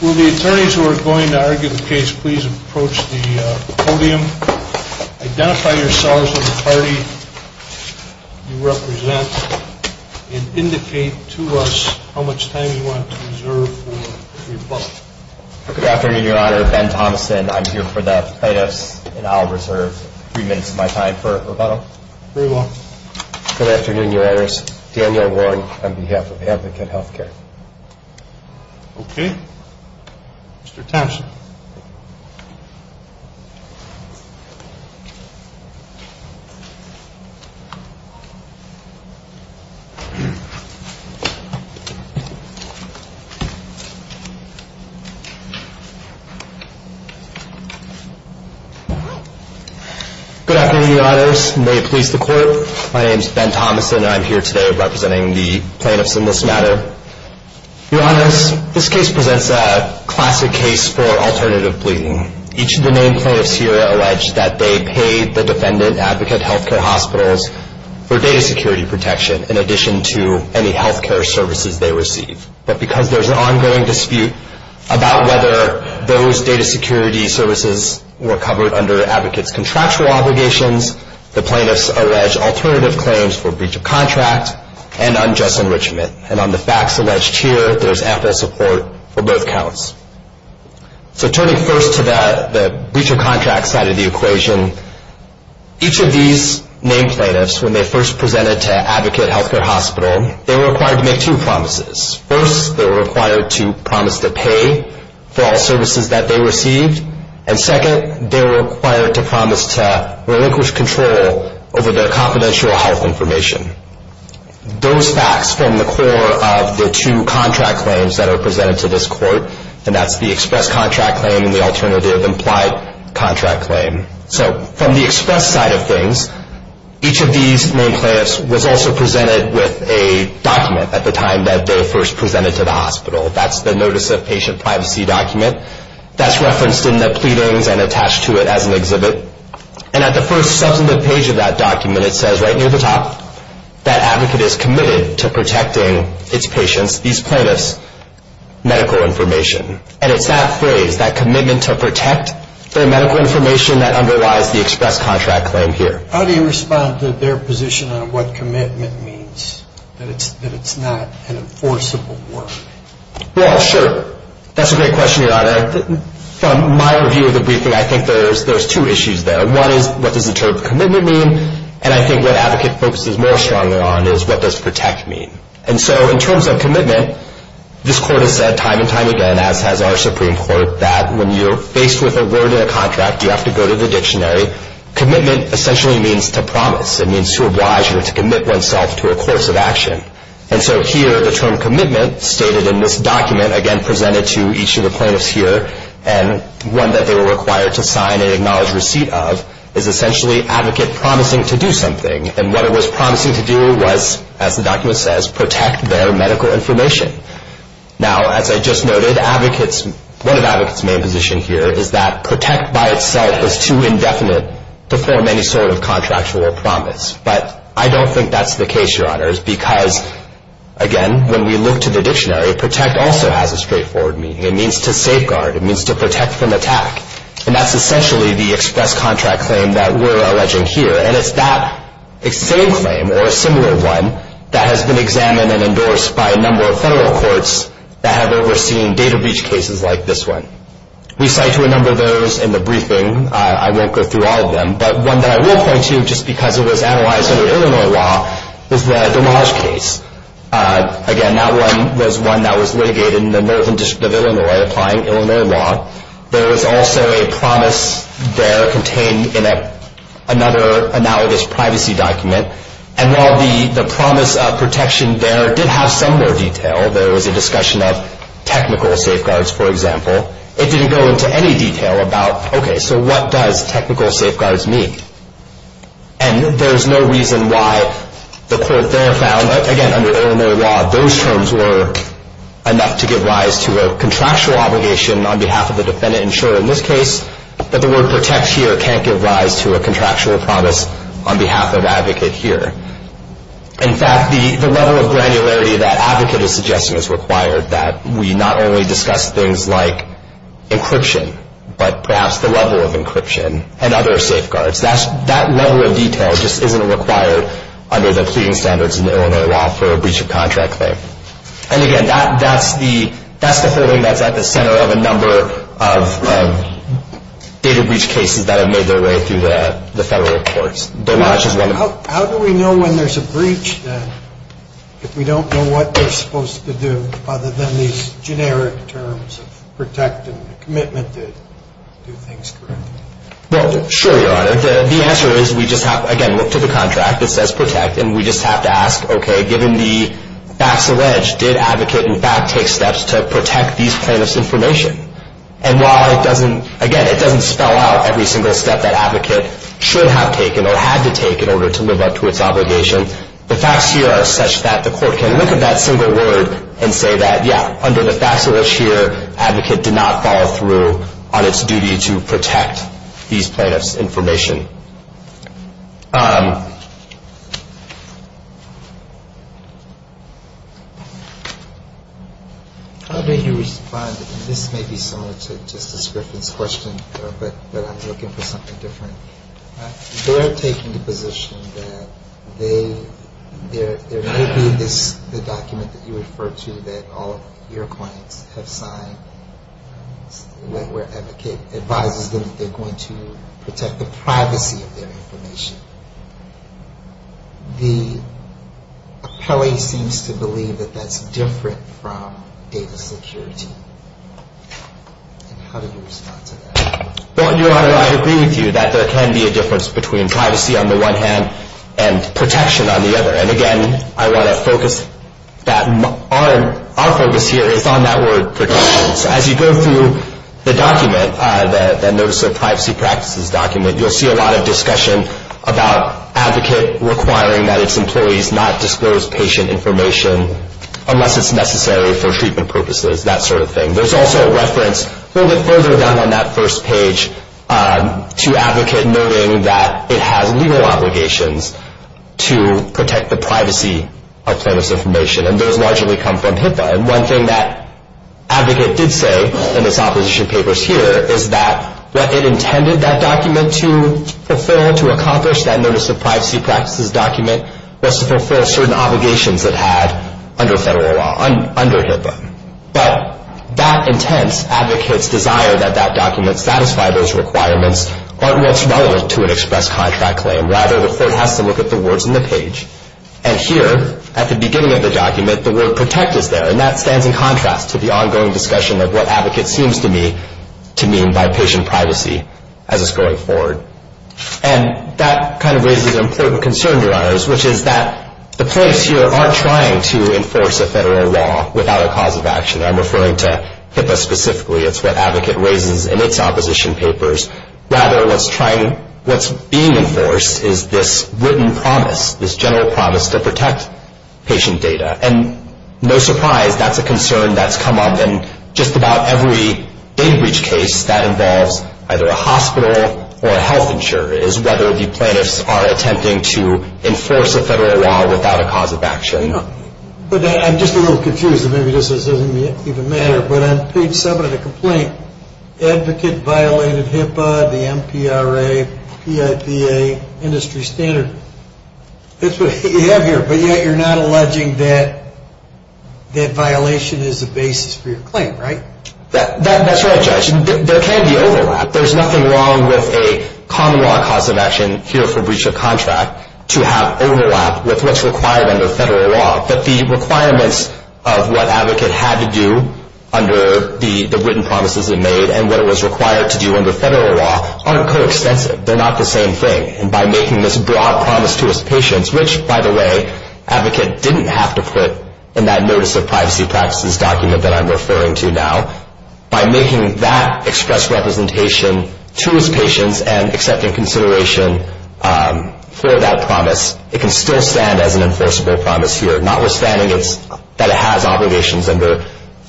Will the attorneys who are going to argue the case please approach the podium, identify yourselves and the party you represent, and indicate to us how much time you want to reserve for rebuttal. Good afternoon, your honor. Ben Thompson. I'm here for the plaintiffs and I'll reserve three minutes of my time for rebuttal. Very well. Good afternoon, your honors. Daniel Warren on behalf of Advocate Health Care. Okay. Mr. Thompson. Good afternoon, your honors. May it please the court. My name is Ben Thompson and I'm here today representing the plaintiffs in this matter. Your honors, this case presents a classic case for alternative pleading. Each of the main plaintiffs here allege that they paid the defendant, Advocate Health Care Hospitals, for data security protection in addition to any health care services they receive. But because there's an ongoing dispute about whether those data security services were covered under Advocate's contractual obligations, the plaintiffs allege alternative claims for breach of contract and unjust enrichment. And on the facts alleged here, there's ample support for both counts. So turning first to the breach of contract side of the equation, each of these main plaintiffs when they first presented to Advocate Health Care Hospital, they were required to make two promises. First, they were required to promise to pay for all services that they received. And second, they were required to promise to relinquish control over their confidential health information. Those facts form the core of the two contract claims that are presented to this court, and that's the express contract claim and the alternative implied contract claim. So from the express side of things, each of these main plaintiffs was also presented with a document at the time that they were first presented to the hospital. That's the Notice of Patient Privacy document. That's referenced in the pleadings and attached to it as an exhibit. And at the first substantive page of that document, it says right near the top that Advocate is committed to protecting its patients, these plaintiffs, medical information. And it's that phrase, that commitment to protect their medical information that underlies the express contract claim here. How do you respond to their position on what commitment means, that it's not an enforceable word? Well, sure. That's a great question, Your Honor. From my review of the briefing, I think there's two issues there. One is what does the term commitment mean, and I think what Advocate focuses more strongly on is what does protect mean. And so in terms of commitment, this Court has said time and time again, as has our Supreme Court, that when you're faced with a word in a contract, you have to go to the dictionary. Commitment essentially means to promise. It means to oblige or to commit oneself to a course of action. And so here the term commitment stated in this document, again presented to each of the plaintiffs here, and one that they were required to sign an acknowledged receipt of, is essentially Advocate promising to do something. And what it was promising to do was, as the document says, protect their medical information. Now, as I just noted, one of Advocate's main positions here is that protect by itself is too indefinite to form any sort of contractual promise. But I don't think that's the case, Your Honors, because, again, when we look to the dictionary, protect also has a straightforward meaning. It means to safeguard. It means to protect from attack. And that's essentially the express contract claim that we're alleging here. And it's that same claim, or a similar one, that has been examined and endorsed by a number of federal courts that have overseen data breach cases like this one. We cite to a number of those in the briefing. I won't go through all of them. But one that I will point to, just because it was analyzed under Illinois law, is the Damage case. Again, that one was one that was litigated in the Northern District of Illinois, applying Illinois law. There was also a promise there contained in another analogous privacy document. And while the promise of protection there did have some more detail, there was a discussion of technical safeguards, for example, it didn't go into any detail about, okay, so what does technical safeguards mean? And there's no reason why the court there found, again, under Illinois law, those terms were enough to give rise to a contractual obligation on behalf of the defendant. And sure, in this case, that the word protect here can't give rise to a contractual promise on behalf of advocate here. In fact, the level of granularity that advocate is suggesting is required, that we not only discuss things like encryption, but perhaps the level of encryption and other safeguards. That level of detail just isn't required under the cleaning standards in Illinois law for a breach of contract claim. And again, that's the building that's at the center of a number of data breach cases that have made their way through the federal courts. How do we know when there's a breach, then, if we don't know what they're supposed to do, other than these generic terms of protect and commitment to do things correctly? Well, sure, Your Honor. The answer is we just have, again, look to the contract that says protect, and we just have to ask, okay, given the facts alleged, did advocate, in fact, take steps to protect these plaintiff's information? And while it doesn't, again, it doesn't spell out every single step that advocate should have taken or had to take in order to live up to its obligation, the facts here are such that the court can look at that single word and say that, yeah, under the facts alleged here, advocate did not follow through on its duty to protect these plaintiff's information. How do you respond? And this may be similar to Justice Griffin's question, but I'm looking for something different. They're taking the position that there may be this document that you referred to that all of your clients have signed where advocate advises them that they're going to protect the privacy of their information. The appellee seems to believe that that's different from data security. And how do you respond to that? Well, Your Honor, I agree with you that there can be a difference between privacy on the one hand and protection on the other. And, again, I want to focus that. Our focus here is on that word protection. As you go through the document, the Notice of Privacy Practices document, you'll see a lot of discussion about advocate requiring that its employees not disclose patient information unless it's necessary for treatment purposes, that sort of thing. There's also a reference a little bit further down on that first page to advocate noting that it has legal obligations to protect the privacy of plaintiff's information, and those largely come from HIPAA. And one thing that advocate did say in its opposition papers here is that what it intended that document to fulfill, to accomplish, that Notice of Privacy Practices document was to fulfill certain obligations it had under federal law, under HIPAA. But that intense advocate's desire that that document satisfy those requirements aren't what's relevant to an express contract claim. Rather, the court has to look at the words on the page. And here, at the beginning of the document, the word protect is there, and that stands in contrast to the ongoing discussion of what advocate seems to me to mean by patient privacy as it's going forward. Which is that the plaintiffs here aren't trying to enforce a federal law without a cause of action. I'm referring to HIPAA specifically. It's what advocate raises in its opposition papers. Rather, what's being enforced is this written promise, this general promise to protect patient data. And no surprise, that's a concern that's come up in just about every data breach case that involves either a hospital or a health insurer, is whether the plaintiffs are attempting to enforce a federal law without a cause of action. I'm just a little confused. Maybe this doesn't even matter. But on page 7 of the complaint, advocate violated HIPAA, the MPRA, PIPA, industry standard. That's what you have here. But yet you're not alleging that that violation is the basis for your claim, right? That's right, Judge. There can be overlap. There's nothing wrong with a common law cause of action here for breach of contract to have overlap with what's required under federal law. But the requirements of what advocate had to do under the written promises it made and what it was required to do under federal law aren't coextensive. They're not the same thing. And by making this broad promise to his patients, which, by the way, advocate didn't have to put in that notice of privacy practices document that I'm referring to now, by making that express representation to his patients and accepting consideration for that promise, it can still stand as an enforceable promise here, notwithstanding that it has obligations under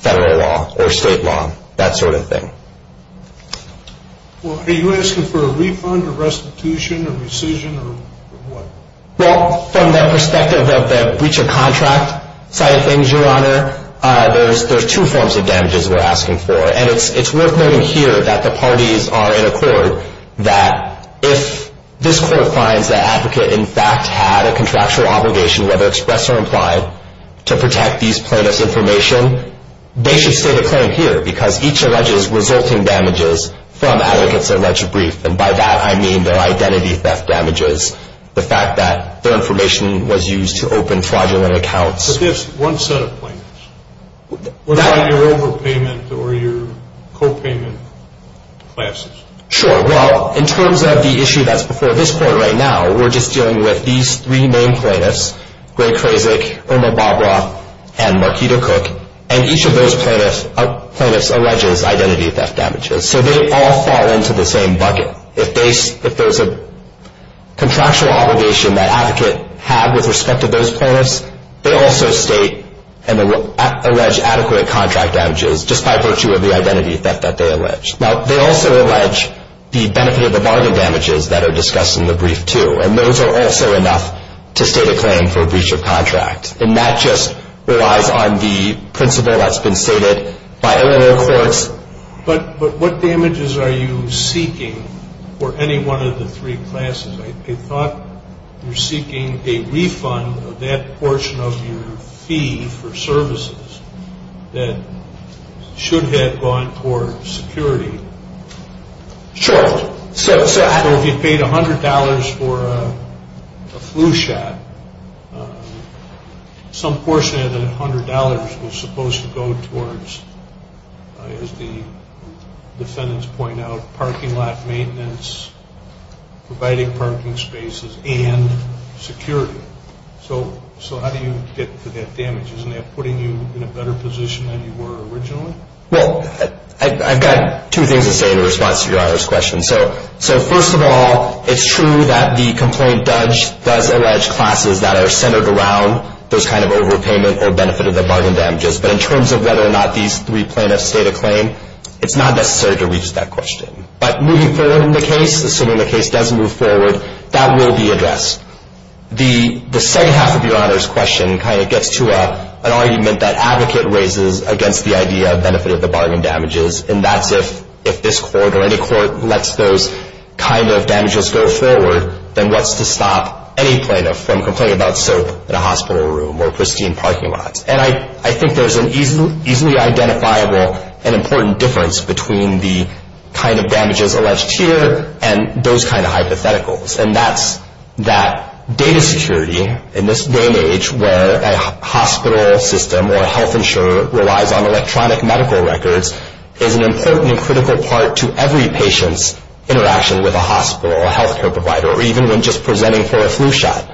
federal law or state law, that sort of thing. Well, are you asking for a refund or restitution or rescission or what? Well, from the perspective of the breach of contract side of things, Your Honor, there's two forms of damages we're asking for. And it's worth noting here that the parties are in accord, that if this court finds that advocate, in fact, had a contractual obligation, whether expressed or implied, to protect these plaintiff's information, they should state a claim here because each alleges resulting damages from advocate's alleged brief. And by that, I mean their identity theft damages, the fact that their information was used to open fraudulent accounts. But there's one set of plaintiffs. What about your overpayment or your copayment classes? Sure. Well, in terms of the issue that's before this court right now, we're just dealing with these three main plaintiffs, Greg Krasik, Irma Babra, and Markito Cook. And each of those plaintiffs alleges identity theft damages. So they all fall into the same bucket. They also state and allege adequate contract damages just by virtue of the identity theft that they allege. Now, they also allege the benefit of the bargain damages that are discussed in the brief, too. And those are also enough to state a claim for a breach of contract. And that just relies on the principle that's been stated by Illinois courts. But what damages are you seeking for any one of the three classes? I thought you're seeking a refund of that portion of your fee for services that should have gone toward security. Sure. So if you paid $100 for a flu shot, some portion of that $100 was supposed to go towards, as the defendants point out, parking lot maintenance, providing parking spaces, and security. So how do you get to that damage? Isn't that putting you in a better position than you were originally? Well, I've got two things to say in response to Your Honor's question. So first of all, it's true that the complaint does allege classes that are centered around those kind of overpayment or benefit of the bargain damages. But in terms of whether or not these three plaintiffs state a claim, it's not necessary to reach that question. But moving forward in the case, assuming the case does move forward, that will be addressed. The second half of Your Honor's question kind of gets to an argument that advocate raises against the idea of benefit of the bargain damages. And that's if this court or any court lets those kind of damages go forward, then what's to stop any plaintiff from complaining about soap in a hospital room or pristine parking lots? And I think there's an easily identifiable and important difference between the kind of damages alleged here and those kind of hypotheticals. And that's that data security in this day and age where a hospital system or health insurer relies on electronic medical records is an important and critical part to every patient's interaction with a hospital or health care provider, or even when just presenting for a flu shot.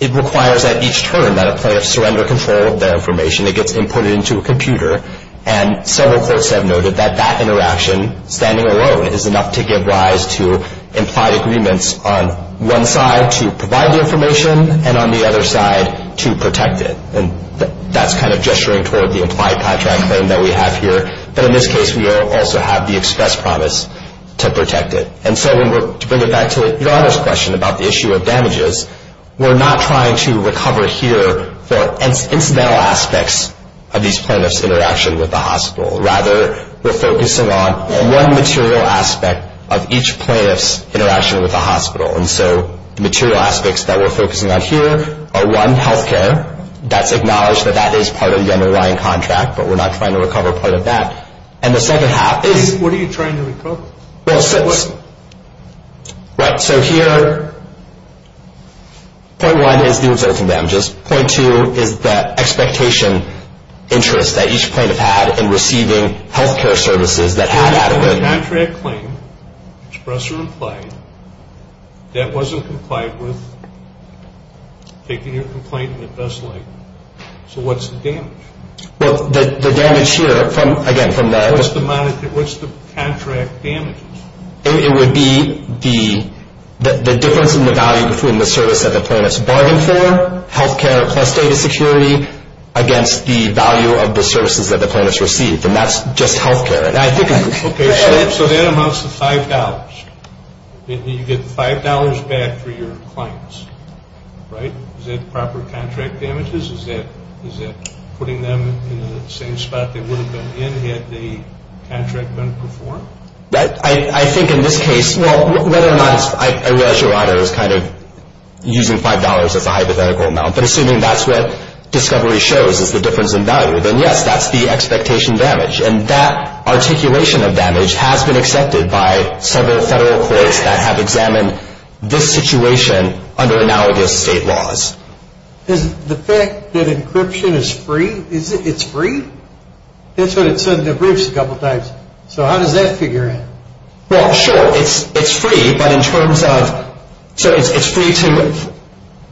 It requires at each turn that a plaintiff surrender control of their information. It gets imported into a computer. And several courts have noted that that interaction, standing alone, is enough to give rise to implied agreements on one side to provide the information and on the other side to protect it. And that's kind of gesturing toward the implied contract claim that we have here. But in this case, we also have the express promise to protect it. And so to bring it back to your other question about the issue of damages, we're not trying to recover here the incidental aspects of these plaintiffs' interaction with the hospital. Rather, we're focusing on one material aspect of each plaintiff's interaction with the hospital. And so the material aspects that we're focusing on here are, one, health care. That's acknowledged that that is part of the underlying contract, but we're not trying to recover part of that. And the second half is what are you trying to recover? Well, so here, point one is the resulting damages. Point two is the expectation interest that each plaintiff had in receiving health care services that had adequate. You have a contract claim, express or implied, that wasn't complied with, taking your complaint to the best leg. So what's the damage? Well, the damage here, again, from the... What's the contract damages? It would be the difference in the value between the service that the plaintiff's bargained for, health care plus data security, against the value of the services that the plaintiff's received. And that's just health care. Okay, so that amounts to $5. You get $5 back for your claims, right? Is that proper contract damages? Is that putting them in the same spot they would have been in had the contract been performed? I think in this case, well, whether or not it's... I realize your honor is kind of using $5 as a hypothetical amount, but assuming that's what discovery shows is the difference in value, then yes, that's the expectation damage. And that articulation of damage has been accepted by several federal courts that have examined this situation under analogous state laws. Is the fact that encryption is free? It's free? That's what it said in the briefs a couple times. So how does that figure out? Well, sure, it's free, but in terms of... So it's free to...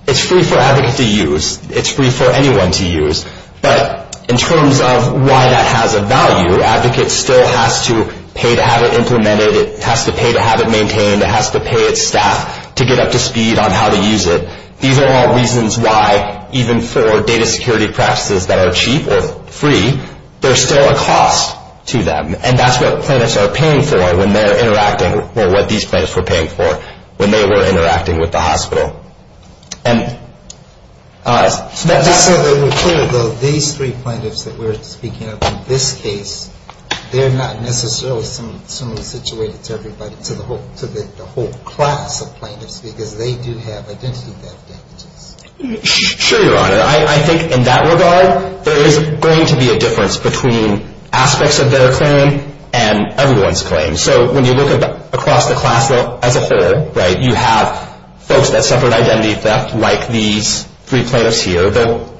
It's free for an advocate to use. It's free for anyone to use. But in terms of why that has a value, advocates still has to pay to have it implemented. It has to pay to have it maintained. It has to pay its staff to get up to speed on how to use it. These are all reasons why, even for data security practices that are cheap or free, there's still a cost to them. And that's what plaintiffs are paying for when they're interacting, or what these plaintiffs were paying for when they were interacting with the hospital. And... Let me just say that we're clear, though, these three plaintiffs that we're speaking of in this case, they're not necessarily similarly situated to everybody, to the whole class of plaintiffs, because they do have identity theft damages. Sure, Your Honor. I think in that regard, there is going to be a difference between aspects of their claim and everyone's claim. So when you look across the class as a whole, right, you have folks that suffered identity theft, like these three plaintiffs here,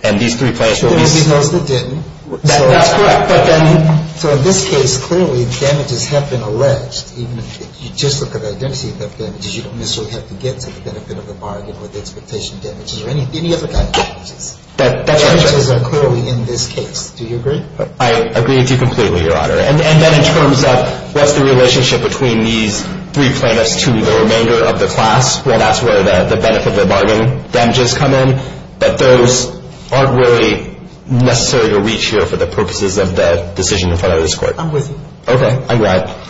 and these three plaintiffs... Those that didn't. That's correct. So in this case, clearly, damages have been alleged. Even if you just look at the identity theft damages, you don't necessarily have to get to the benefit of the bargain or the expectation damages or any other kind of damages. That's correct. Damages are clearly in this case. Do you agree? I agree with you completely, Your Honor. And then in terms of what's the relationship between these three plaintiffs to the remainder of the class, well, that's where the benefit of the bargain damages come in. But those aren't really necessary to reach here for the purposes of the decision in front of this Court. I'm with you. Okay. I'm glad.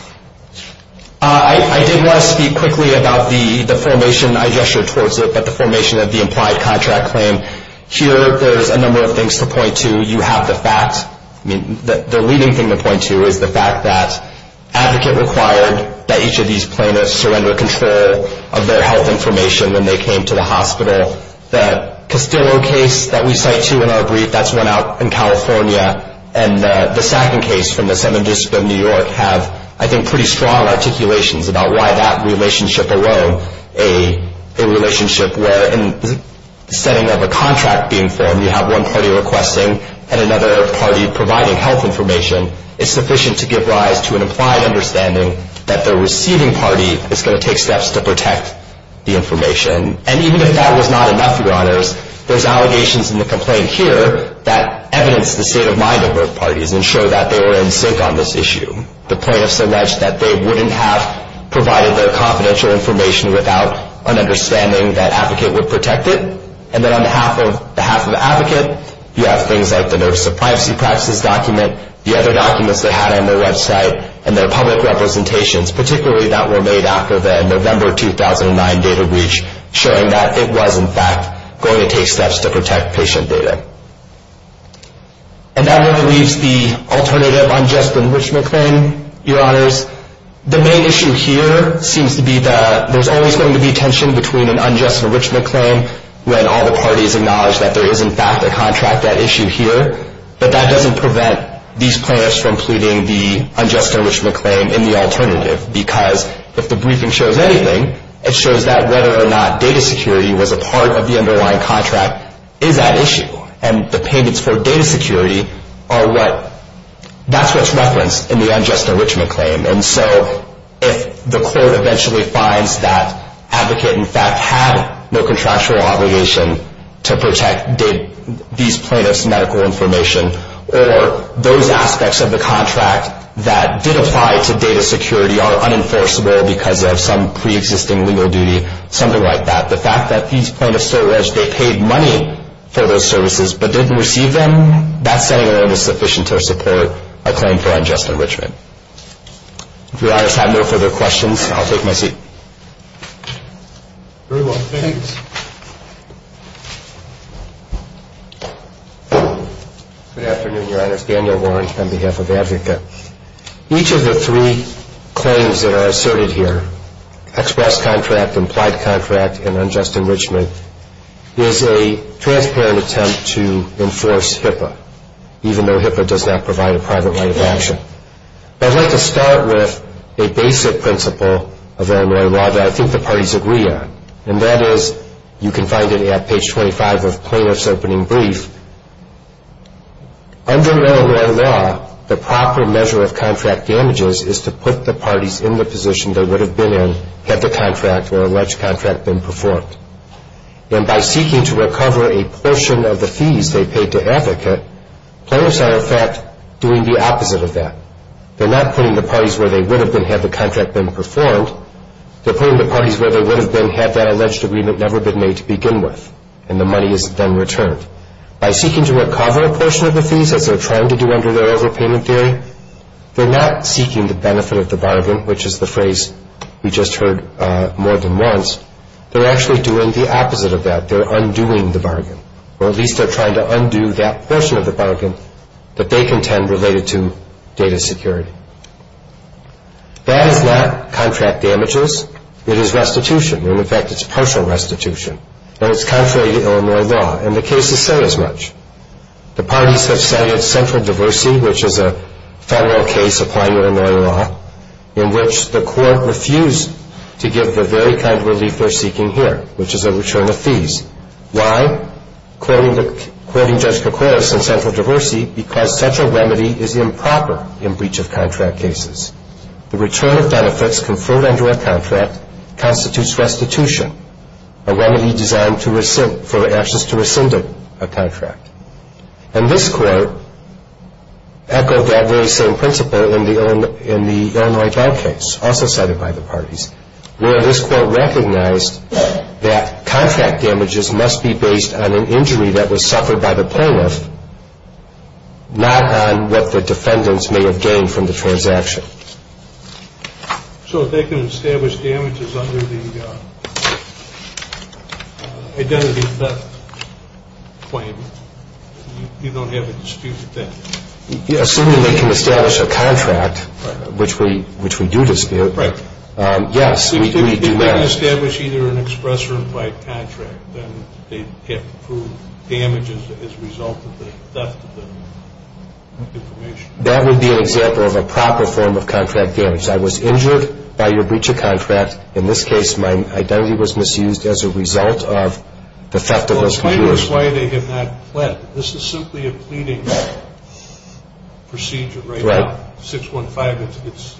I did want to speak quickly about the formation. I gestured towards it, but the formation of the implied contract claim. Here, there's a number of things to point to. You have the facts. I mean, the leading thing to point to is the fact that advocate required that each of these plaintiffs surrender control of their health information when they came to the hospital. The Castillo case that we cite to in our brief, that's one out in California. And the Sacken case from the 7th District of New York have, I think, pretty strong articulations about why that relationship arose, a relationship where in the setting of a contract being formed, you have one party requesting and another party providing health information. It's sufficient to give rise to an implied understanding that the receiving party is going to take steps to protect the information. And even if that was not enough, Your Honors, there's allegations in the complaint here that evidence the state of mind of both parties and show that they were in sync on this issue. The plaintiffs allege that they wouldn't have provided their confidential information without an understanding that advocate would protect it. And then on behalf of the advocate, you have things like the nurse of privacy practices document, the other documents they had on their website, and their public representations, particularly that were made after the November 2009 data breach, showing that it was, in fact, going to take steps to protect patient data. And that leaves the alternative unjust enrichment claim, Your Honors. The main issue here seems to be that there's always going to be tension between an unjust enrichment claim when all the parties acknowledge that there is, in fact, a contract issue here. But that doesn't prevent these plaintiffs from pleading the unjust enrichment claim in the alternative because if the briefing shows anything, it shows that whether or not data security was a part of the underlying contract is at issue. And the payments for data security, that's what's referenced in the unjust enrichment claim. And so if the court eventually finds that advocate, in fact, had no contractual obligation to protect these plaintiffs' medical information or those aspects of the contract that did apply to data security are unenforceable because of some preexisting legal duty, something like that, the fact that these plaintiffs so urged they paid money for those services but didn't receive them, that setting alone is sufficient to support a claim for unjust enrichment. If Your Honors have no further questions, I'll take my seat. Very well. Thanks. Good afternoon, Your Honors. Daniel Warren on behalf of ADVICA. Each of the three claims that are asserted here, express contract, implied contract, and unjust enrichment, is a transparent attempt to enforce HIPAA, even though HIPAA does not provide a private right of action. I'd like to start with a basic principle of Illinois law that I think the parties agree on, and that is you can find it at page 25 of Plaintiff's Opening Brief. Under Illinois law, the proper measure of contract damages is to put the parties in the position they would have been in had the contract or alleged contract been performed. And by seeking to recover a portion of the fees they paid to advocate, plaintiffs are, in fact, doing the opposite of that. They're not putting the parties where they would have been had the contract been performed. They're putting the parties where they would have been had that alleged agreement never been made to begin with, and the money is then returned. By seeking to recover a portion of the fees, as they're trying to do under their overpayment theory, they're not seeking the benefit of the bargain, which is the phrase we just heard more than once. They're actually doing the opposite of that. They're undoing the bargain, or at least they're trying to undo that portion of the bargain that they contend related to data security. That is not contract damages. It is restitution, and, in fact, it's partial restitution, and it's contrary to Illinois law, and the cases say as much. The parties have cited central diversity, which is a federal case applying Illinois law, in which the court refused to give the very kind of relief they're seeking here, which is a return of fees. Why? Quoting Judge Kokoros in Central Diversity, because such a remedy is improper in breach of contract cases. The return of benefits conferred under a contract constitutes restitution, a remedy designed for ashes to rescind a contract. And this court echoed that very same principle in the Illinois bail case, also cited by the parties, where this court recognized that contract damages must be based on an injury that was suffered by the plaintiff, not on what the defendants may have gained from the transaction. So if they can establish damages under the identity theft claim, you don't have a dispute with them? Assuming they can establish a contract, which we do dispute. Right. Yes, we do that. If they can establish either an express or invite contract, then they have to prove damages as a result of the theft of the information. That would be an example of a proper form of contract damage. I was injured by your breach of contract. In this case, my identity was misused as a result of the theft of those computers. Well, explain to us why they have not pled. This is simply a pleading procedure right now. Right. 615, it's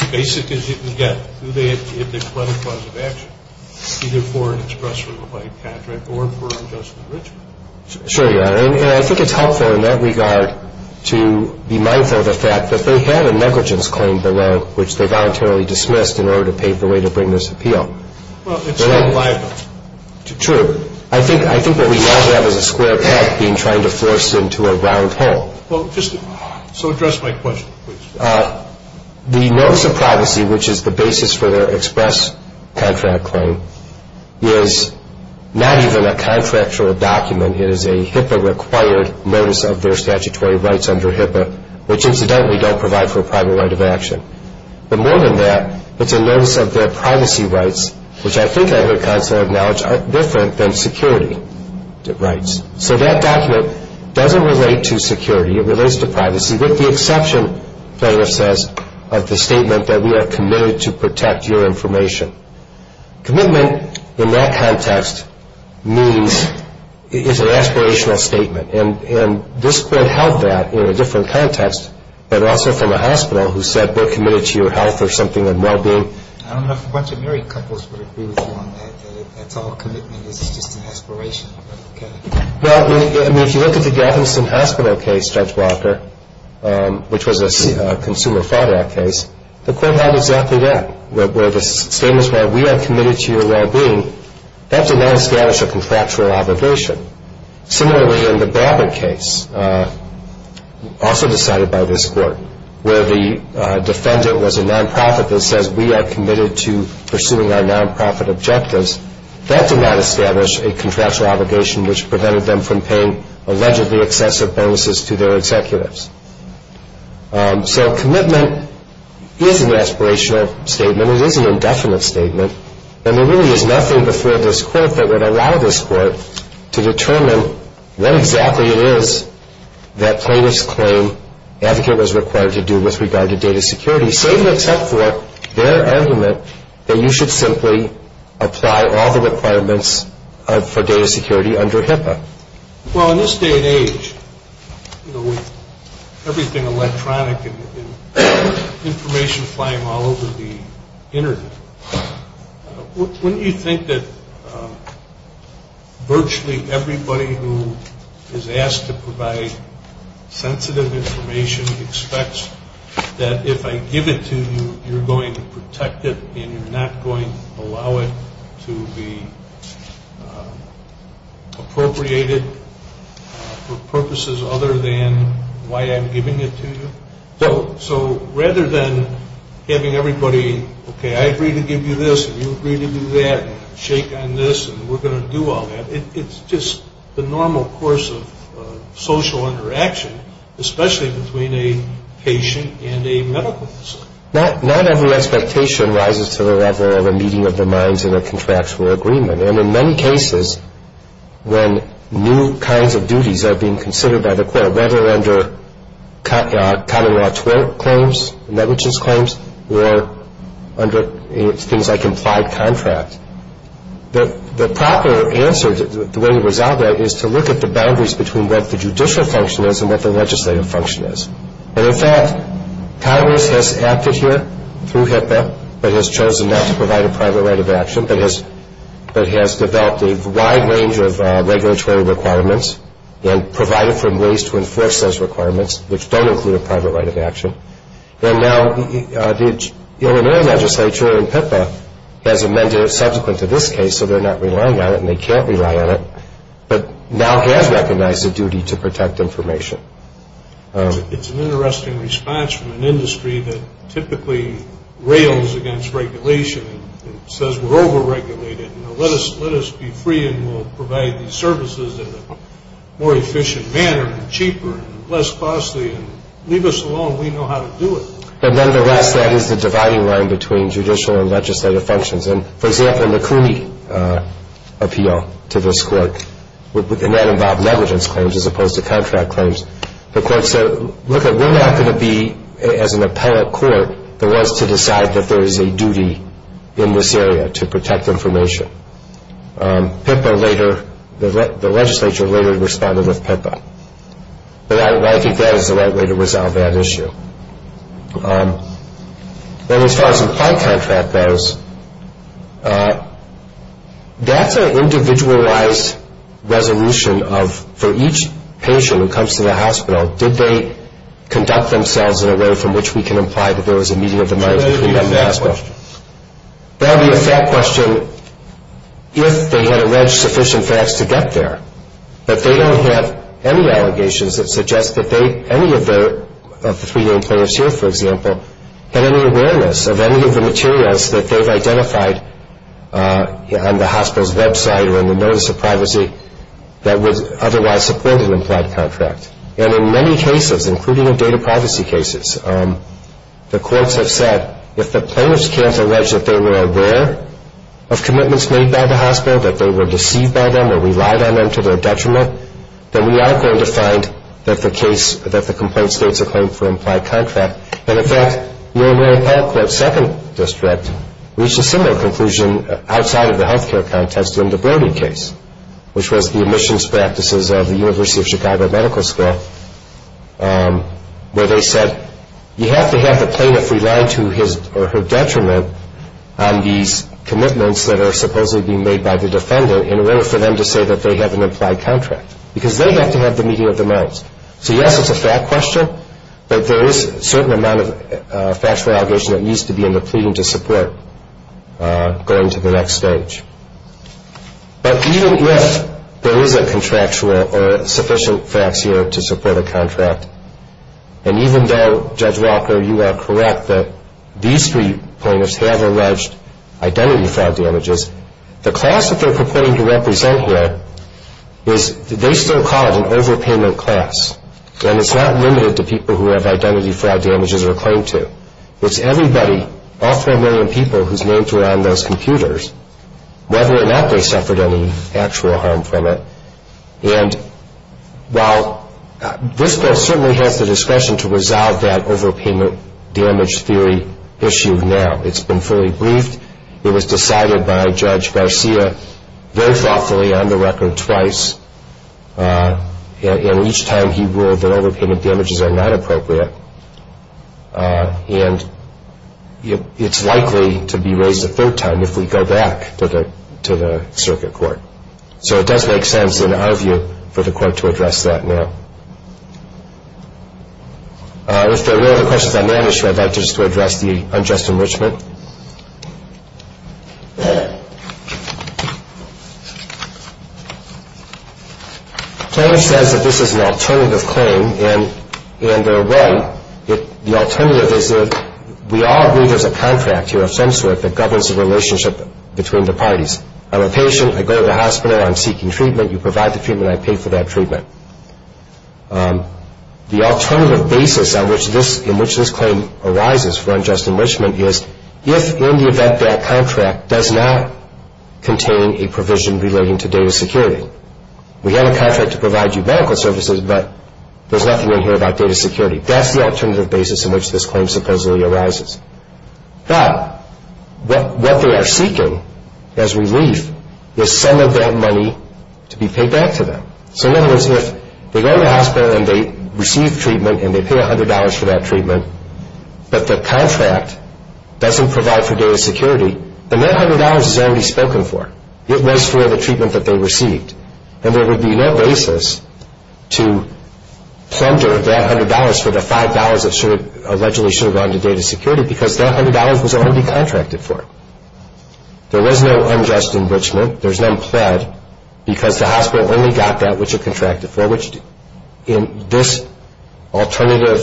as basic as you can get. Do they have to plead a clause of action, either for an express or invite contract or for an adjustment of interest? Sure, Your Honor. And I think it's helpful in that regard to be mindful of the fact that they have a negligence claim below, which they voluntarily dismissed in order to pave the way to bring this appeal. Well, it's not liable. True. I think what we now have is a square path being tried to force into a round hole. Well, just so address my question, please. The notice of privacy, which is the basis for their express contract claim, is not even a contractual document. It is a HIPAA-required notice of their statutory rights under HIPAA, which incidentally don't provide for a private right of action. But more than that, it's a notice of their privacy rights, which I think I heard Counselor acknowledge are different than security rights. So that document doesn't relate to security. It relates to privacy, with the exception, the plaintiff says, of the statement that we are committed to protect your information. Commitment in that context is an aspirational statement. And this could help that in a different context, but also from a hospital who said we're committed to your health or something and well-being. I don't know if a bunch of married couples would agree with you on that, that it's all commitment, it's just an aspiration. Well, I mean, if you look at the Galveston Hospital case, Judge Walker, which was a Consumer Fraud Act case, the court had exactly that, where the statement is, well, we are committed to your well-being, that did not establish a contractual obligation. Similarly, in the Brabant case, also decided by this court, where the defendant was a nonprofit that says we are committed to pursuing our nonprofit objectives, that did not establish a contractual obligation, which prevented them from paying allegedly excessive bonuses to their executives. So commitment is an aspirational statement. It is an indefinite statement. And there really is nothing before this court that would allow this court to determine what exactly it is that plaintiff's claim advocate was required to do with regard to data security, except for their argument that you should simply apply all the requirements for data security under HIPAA. Well, in this day and age, with everything electronic and information flying all over the Internet, wouldn't you think that virtually everybody who is asked to provide sensitive information expects that if I give it to you, you're going to protect it and you're not going to allow it to be appropriated for purposes other than why I'm giving it to you? No. So rather than having everybody, okay, I agree to give you this and you agree to do that and shake on this and we're going to do all that, it's just the normal course of social interaction, especially between a patient and a medical facility. Not every expectation rises to the level of a meeting of the minds in a contractual agreement. And in many cases, when new kinds of duties are being considered by the court, whether under common law claims, negligence claims, or under things like implied contract, the proper answer, the way to resolve that is to look at the boundaries between what the judicial function is and what the legislative function is. And in fact, Congress has acted here through HIPAA, but has chosen not to provide a private right of action, but has developed a wide range of regulatory requirements and provided for ways to enforce those requirements which don't include a private right of action. And now the Illinois legislature in HIPAA has amended it subsequent to this case, so they're not relying on it and they can't rely on it, but now has recognized the duty to protect information. It's an interesting response from an industry that typically rails against regulation and says we're overregulated and let us be free and we'll provide these services in a more efficient manner and cheaper and less costly. Leave us alone. We know how to do it. But nonetheless, that is the dividing line between judicial and legislative functions. And, for example, in the CUNY appeal to this court, and that involved negligence claims as opposed to contract claims, the court said, look, we're not going to be, as an appellate court, the ones to decide that there is a duty in this area to protect information. HIPAA later, the legislature later responded with HIPAA. But I think that is the right way to resolve that issue. Then as far as implied contract goes, that's an individualized resolution of, for each patient who comes to the hospital, did they conduct themselves in a way from which we can imply that there was a meeting of the mind between them and the hospital? That would be a fact question if they had alleged sufficient facts to get there. But they don't have any allegations that suggest that any of the three main plaintiffs here, for example, had any awareness of any of the materials that they've identified on the hospital's website or in the notice of privacy that would otherwise support an implied contract. And in many cases, including in data privacy cases, the courts have said, if the plaintiffs can't allege that they were aware of commitments made by the hospital, that they were deceived by them or relied on them to their detriment, then we are going to find that the complaint states a claim for implied contract. And, in fact, Mary Pell Clubb's second district reached a similar conclusion outside of the health care contest in the Brody case, which was the admissions practices of the University of Chicago Medical School, where they said you have to have the plaintiff rely to his or her detriment on these commitments that are supposedly being made by the defendant in order for them to say that they have an implied contract, because they have to have the meeting of the minds. So, yes, it's a fact question, but there is a certain amount of factual allegation that needs to be in the pleading to support going to the next stage. But even if there is a contractual or sufficient facts here to support a contract, and even though, Judge Walker, you are correct that these three plaintiffs have alleged identity fraud damages, the class that they're purporting to represent here is, they still call it an overpayment class. And it's not limited to people who have identity fraud damages or claim to. It's everybody, all three million people whose names were on those computers, whether or not they suffered any actual harm from it. And while this bill certainly has the discretion to resolve that overpayment damage theory issue now, it's been fully briefed, it was decided by Judge Garcia very thoughtfully on the record twice, and each time he ruled that overpayment damages are not appropriate, and it's likely to be raised a third time if we go back to the circuit court. So it does make sense in our view for the court to address that now. If there are no other questions on that issue, I'd like just to address the unjust enrichment. The claim says that this is an alternative claim, and in a way, the alternative is that we all agree there's a contract here of some sort that governs the relationship between the parties. I'm a patient. I go to the hospital. I'm seeking treatment. You provide the treatment. I pay for that treatment. The alternative basis in which this claim arises for unjust enrichment is if, in the event, that contract does not contain a provision relating to data security. We have a contract to provide you medical services, but there's nothing in here about data security. That's the alternative basis in which this claim supposedly arises. But what they are seeking as relief is some of that money to be paid back to them. So in other words, if they go to the hospital and they receive treatment and they pay $100 for that treatment, but the contract doesn't provide for data security, then that $100 is already spoken for. It was for the treatment that they received, and there would be no basis to plunder that $100 for the $5 that allegedly should have gone to data security because that $100 was already contracted for. There was no unjust enrichment. There's no pled because the hospital only got that which it contracted for, which in this alternative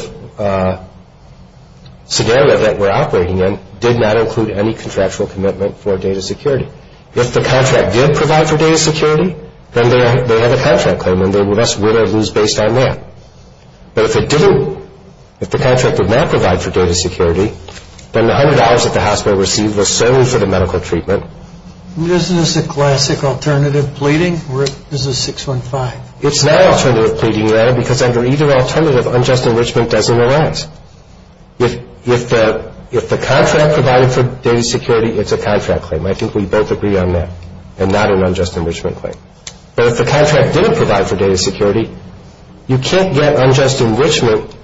scenario that we're operating in did not include any contractual commitment for data security. If the contract did provide for data security, then they have a contract claim, and they would thus win or lose based on that. But if it didn't, if the contract did not provide for data security, then the $100 that the hospital received was solely for the medical treatment. Isn't this a classic alternative pleading? Is this 615? It's not an alternative pleading, no, because under either alternative, unjust enrichment doesn't arise. If the contract provided for data security, it's a contract claim. I think we both agree on that, and not an unjust enrichment claim. But if the contract didn't provide for data security, you can't get unjust enrichment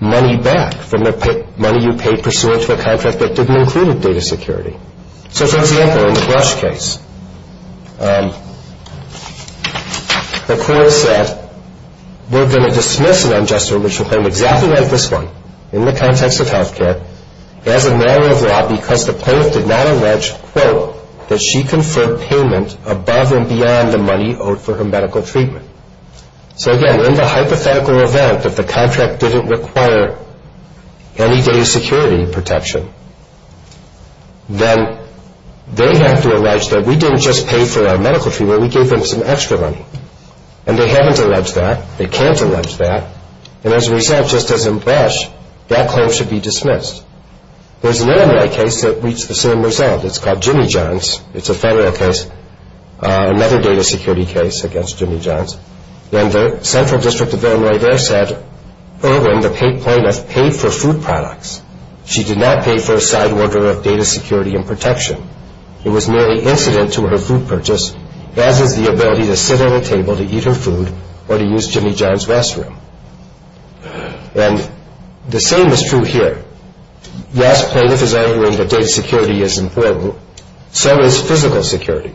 money back from the money you paid pursuant to a contract that didn't include data security. So, for example, in the Brush case, the court said, we're going to dismiss an unjust enrichment claim exactly like this one in the context of health care as a matter of law because the plaintiff did not allege, quote, that she conferred payment above and beyond the money owed for her medical treatment. So, again, in the hypothetical event that the contract didn't require any data security protection, then they have to allege that we didn't just pay for our medical treatment, we gave them some extra money. And they haven't alleged that. They can't allege that. And as a result, just as in Brush, that claim should be dismissed. There's another case that reached the same result. It's called Jimmy John's. It's a federal case, another data security case against Jimmy John's. And the central district of Illinois there said, oh, and the plaintiff paid for food products. She did not pay for a side order of data security and protection. It was merely incident to her food purchase, as is the ability to sit at a table to eat her food or to use Jimmy John's restroom. And the same is true here. Yes, plaintiff is arguing that data security is important. So is physical security.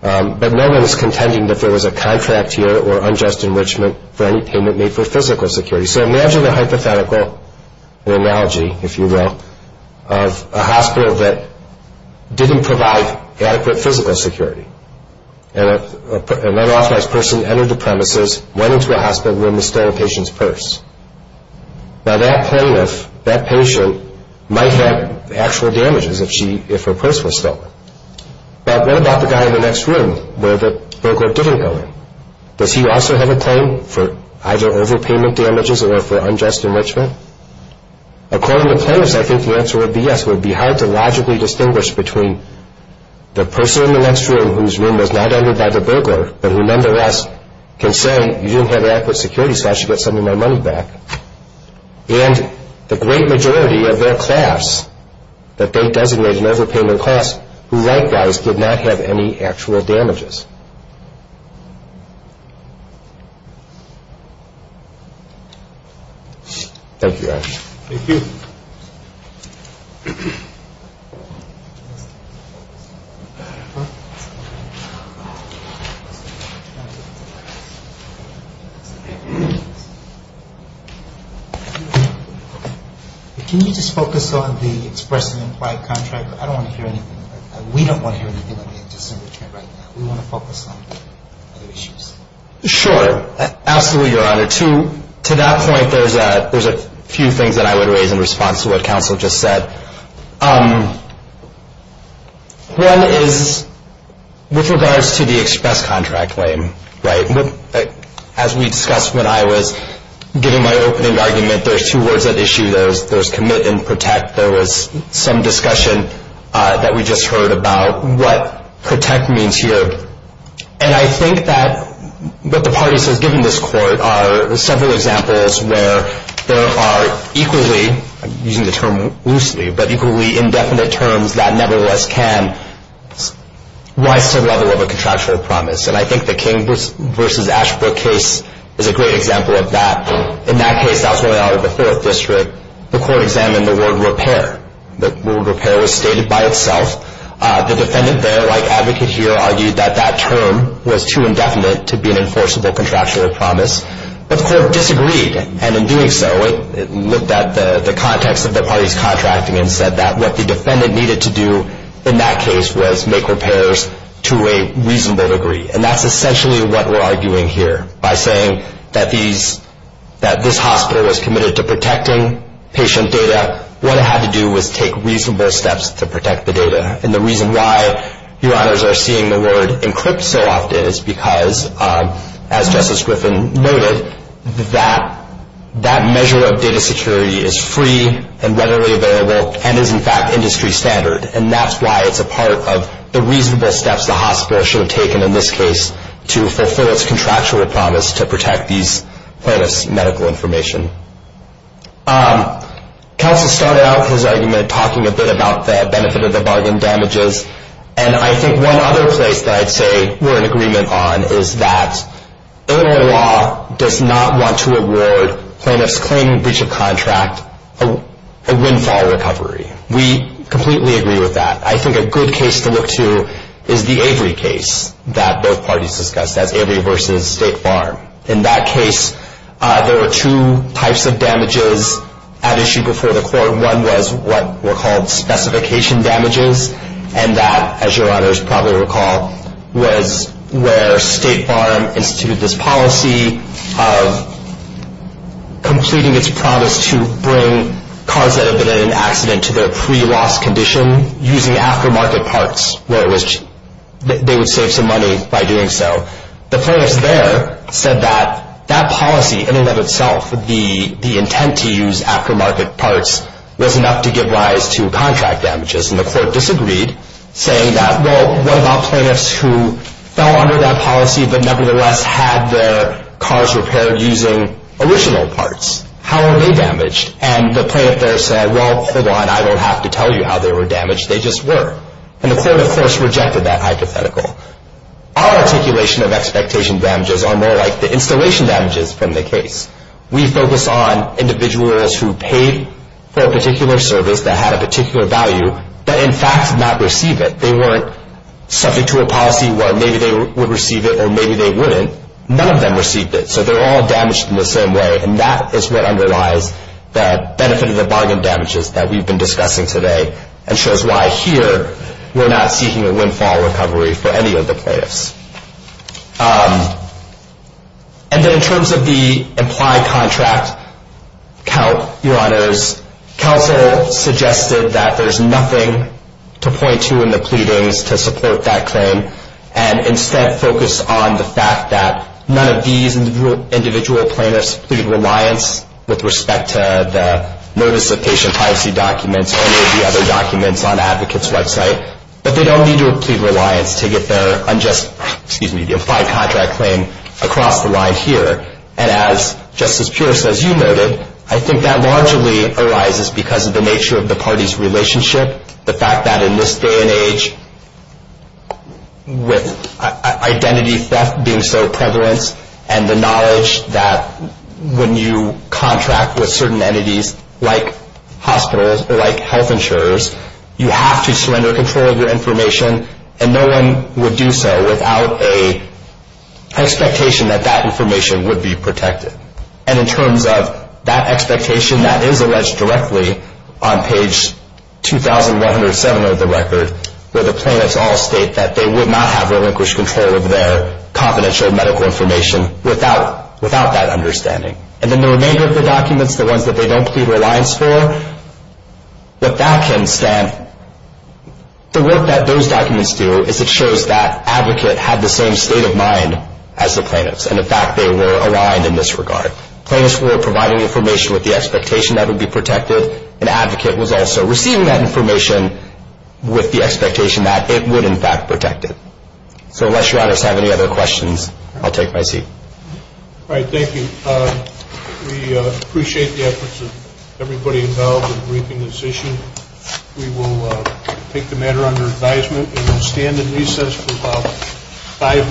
But no one is contending that there was a contract here or unjust enrichment for any payment made for physical security. So imagine a hypothetical, an analogy, if you will, of a hospital that didn't provide adequate physical security. And an unauthorized person entered the premises, went into a hospital room, and stole a patient's purse. Now that plaintiff, that patient, might have actual damages if her purse was stolen. But what about the guy in the next room where the broker didn't go in? Does he also have a claim for either overpayment damages or for unjust enrichment? According to plaintiffs, I think the answer would be yes. It would be hard to logically distinguish between the person in the next room whose room was not entered by the broker, but who nonetheless can say you didn't have adequate security so I should get some of my money back, and the great majority of their class that they designated an overpayment class who likewise did not have any actual damages. Thank you, Ash. Thank you. Can you just focus on the express and implied contract? I don't want to hear anything. We don't want to hear anything on the unjust enrichment right now. We want to focus on other issues. Sure. Absolutely, Your Honor. To that point, there's a few things that I would raise in response to what counsel just said. One is with regards to the express contract claim, right? As we discussed when I was giving my opening argument, there's two words at issue. There's commit and protect. There was some discussion that we just heard about what protect means here, and I think that what the parties have given this court are several examples where there are equally, using the term loosely, but equally indefinite terms that nevertheless can rise to the level of a contractual promise, and I think the King v. Ashbrook case is a great example of that. In that case, that was when I was in the Fourth District. The court examined the word repair. The word repair was stated by itself. The defendant there, like advocate here, argued that that term was too indefinite to be an enforceable contractual promise, but the court disagreed, and in doing so, it looked at the context of the parties contracting and said that what the defendant needed to do in that case was make repairs to a reasonable degree, and that's essentially what we're arguing here by saying that this hospital was committed to protecting patient data. What it had to do was take reasonable steps to protect the data, and the reason why your honors are seeing the word encrypt so often is because, as Justice Griffin noted, that measure of data security is free and readily available and is, in fact, industry standard, and that's why it's a part of the reasonable steps the hospital should have taken in this case to fulfill its contractual promise to protect these plaintiffs' medical information. Kelsey started out his argument talking a bit about the benefit of the bargain damages, and I think one other place that I'd say we're in agreement on is that Illinois law does not want to award plaintiffs claiming breach of contract a windfall recovery. We completely agree with that. I think a good case to look to is the Avery case that both parties discussed, that's Avery v. State Farm. In that case, there were two types of damages at issue before the court. One was what were called specification damages, and that, as your honors probably recall, was where State Farm instituted this policy of completing its promise to bring cars that had been in an accident to their pre-loss condition using aftermarket parts where they would save some money by doing so. The plaintiffs there said that that policy in and of itself, the intent to use aftermarket parts, was enough to give rise to contract damages, and the court disagreed, saying that, well, what about plaintiffs who fell under that policy but nevertheless had their cars repaired using original parts? How are they damaged? And the plaintiff there said, well, hold on. I don't have to tell you how they were damaged. They just were. And the court, of course, rejected that hypothetical. Our articulation of expectation damages are more like the installation damages from the case. We focus on individuals who paid for a particular service that had a particular value that, in fact, did not receive it. They weren't subject to a policy where maybe they would receive it or maybe they wouldn't. None of them received it, so they're all damaged in the same way, and that is what underlies the benefit of the bargain damages that we've been discussing today and shows why here we're not seeking a windfall recovery for any of the plaintiffs. And then in terms of the implied contract count, Your Honors, counsel suggested that there's nothing to point to in the pleadings to support that claim and instead focus on the fact that none of these individual plaintiffs plead reliance with respect to the notice of patient privacy documents or any of the other documents on the advocate's website, but they don't need to plead reliance to get their unjust, excuse me, the implied contract claim across the line here. And as Justice Pierce, as you noted, I think that largely arises because of the nature of the party's relationship, the fact that in this day and age with identity theft being so prevalent and the knowledge that when you contract with certain entities like hospitals or like health insurers, you have to surrender control of your information and no one would do so without an expectation that that information would be protected. And in terms of that expectation, that is alleged directly on page 2107 of the record where the plaintiffs all state that they would not have relinquished control of their confidential medical information without that understanding. And then the remainder of the documents, the ones that they don't plead reliance for, the work that those documents do is it shows that advocate had the same state of mind as the plaintiffs and, in fact, they were aligned in this regard. Plaintiffs were providing information with the expectation that it would be protected. An advocate was also receiving that information with the expectation that it would, in fact, protect it. So unless Your Honors have any other questions, I'll take my seat. All right. Thank you. We appreciate the efforts of everybody involved in briefing this issue. We will take the matter under advisement and stand in recess for about five minutes.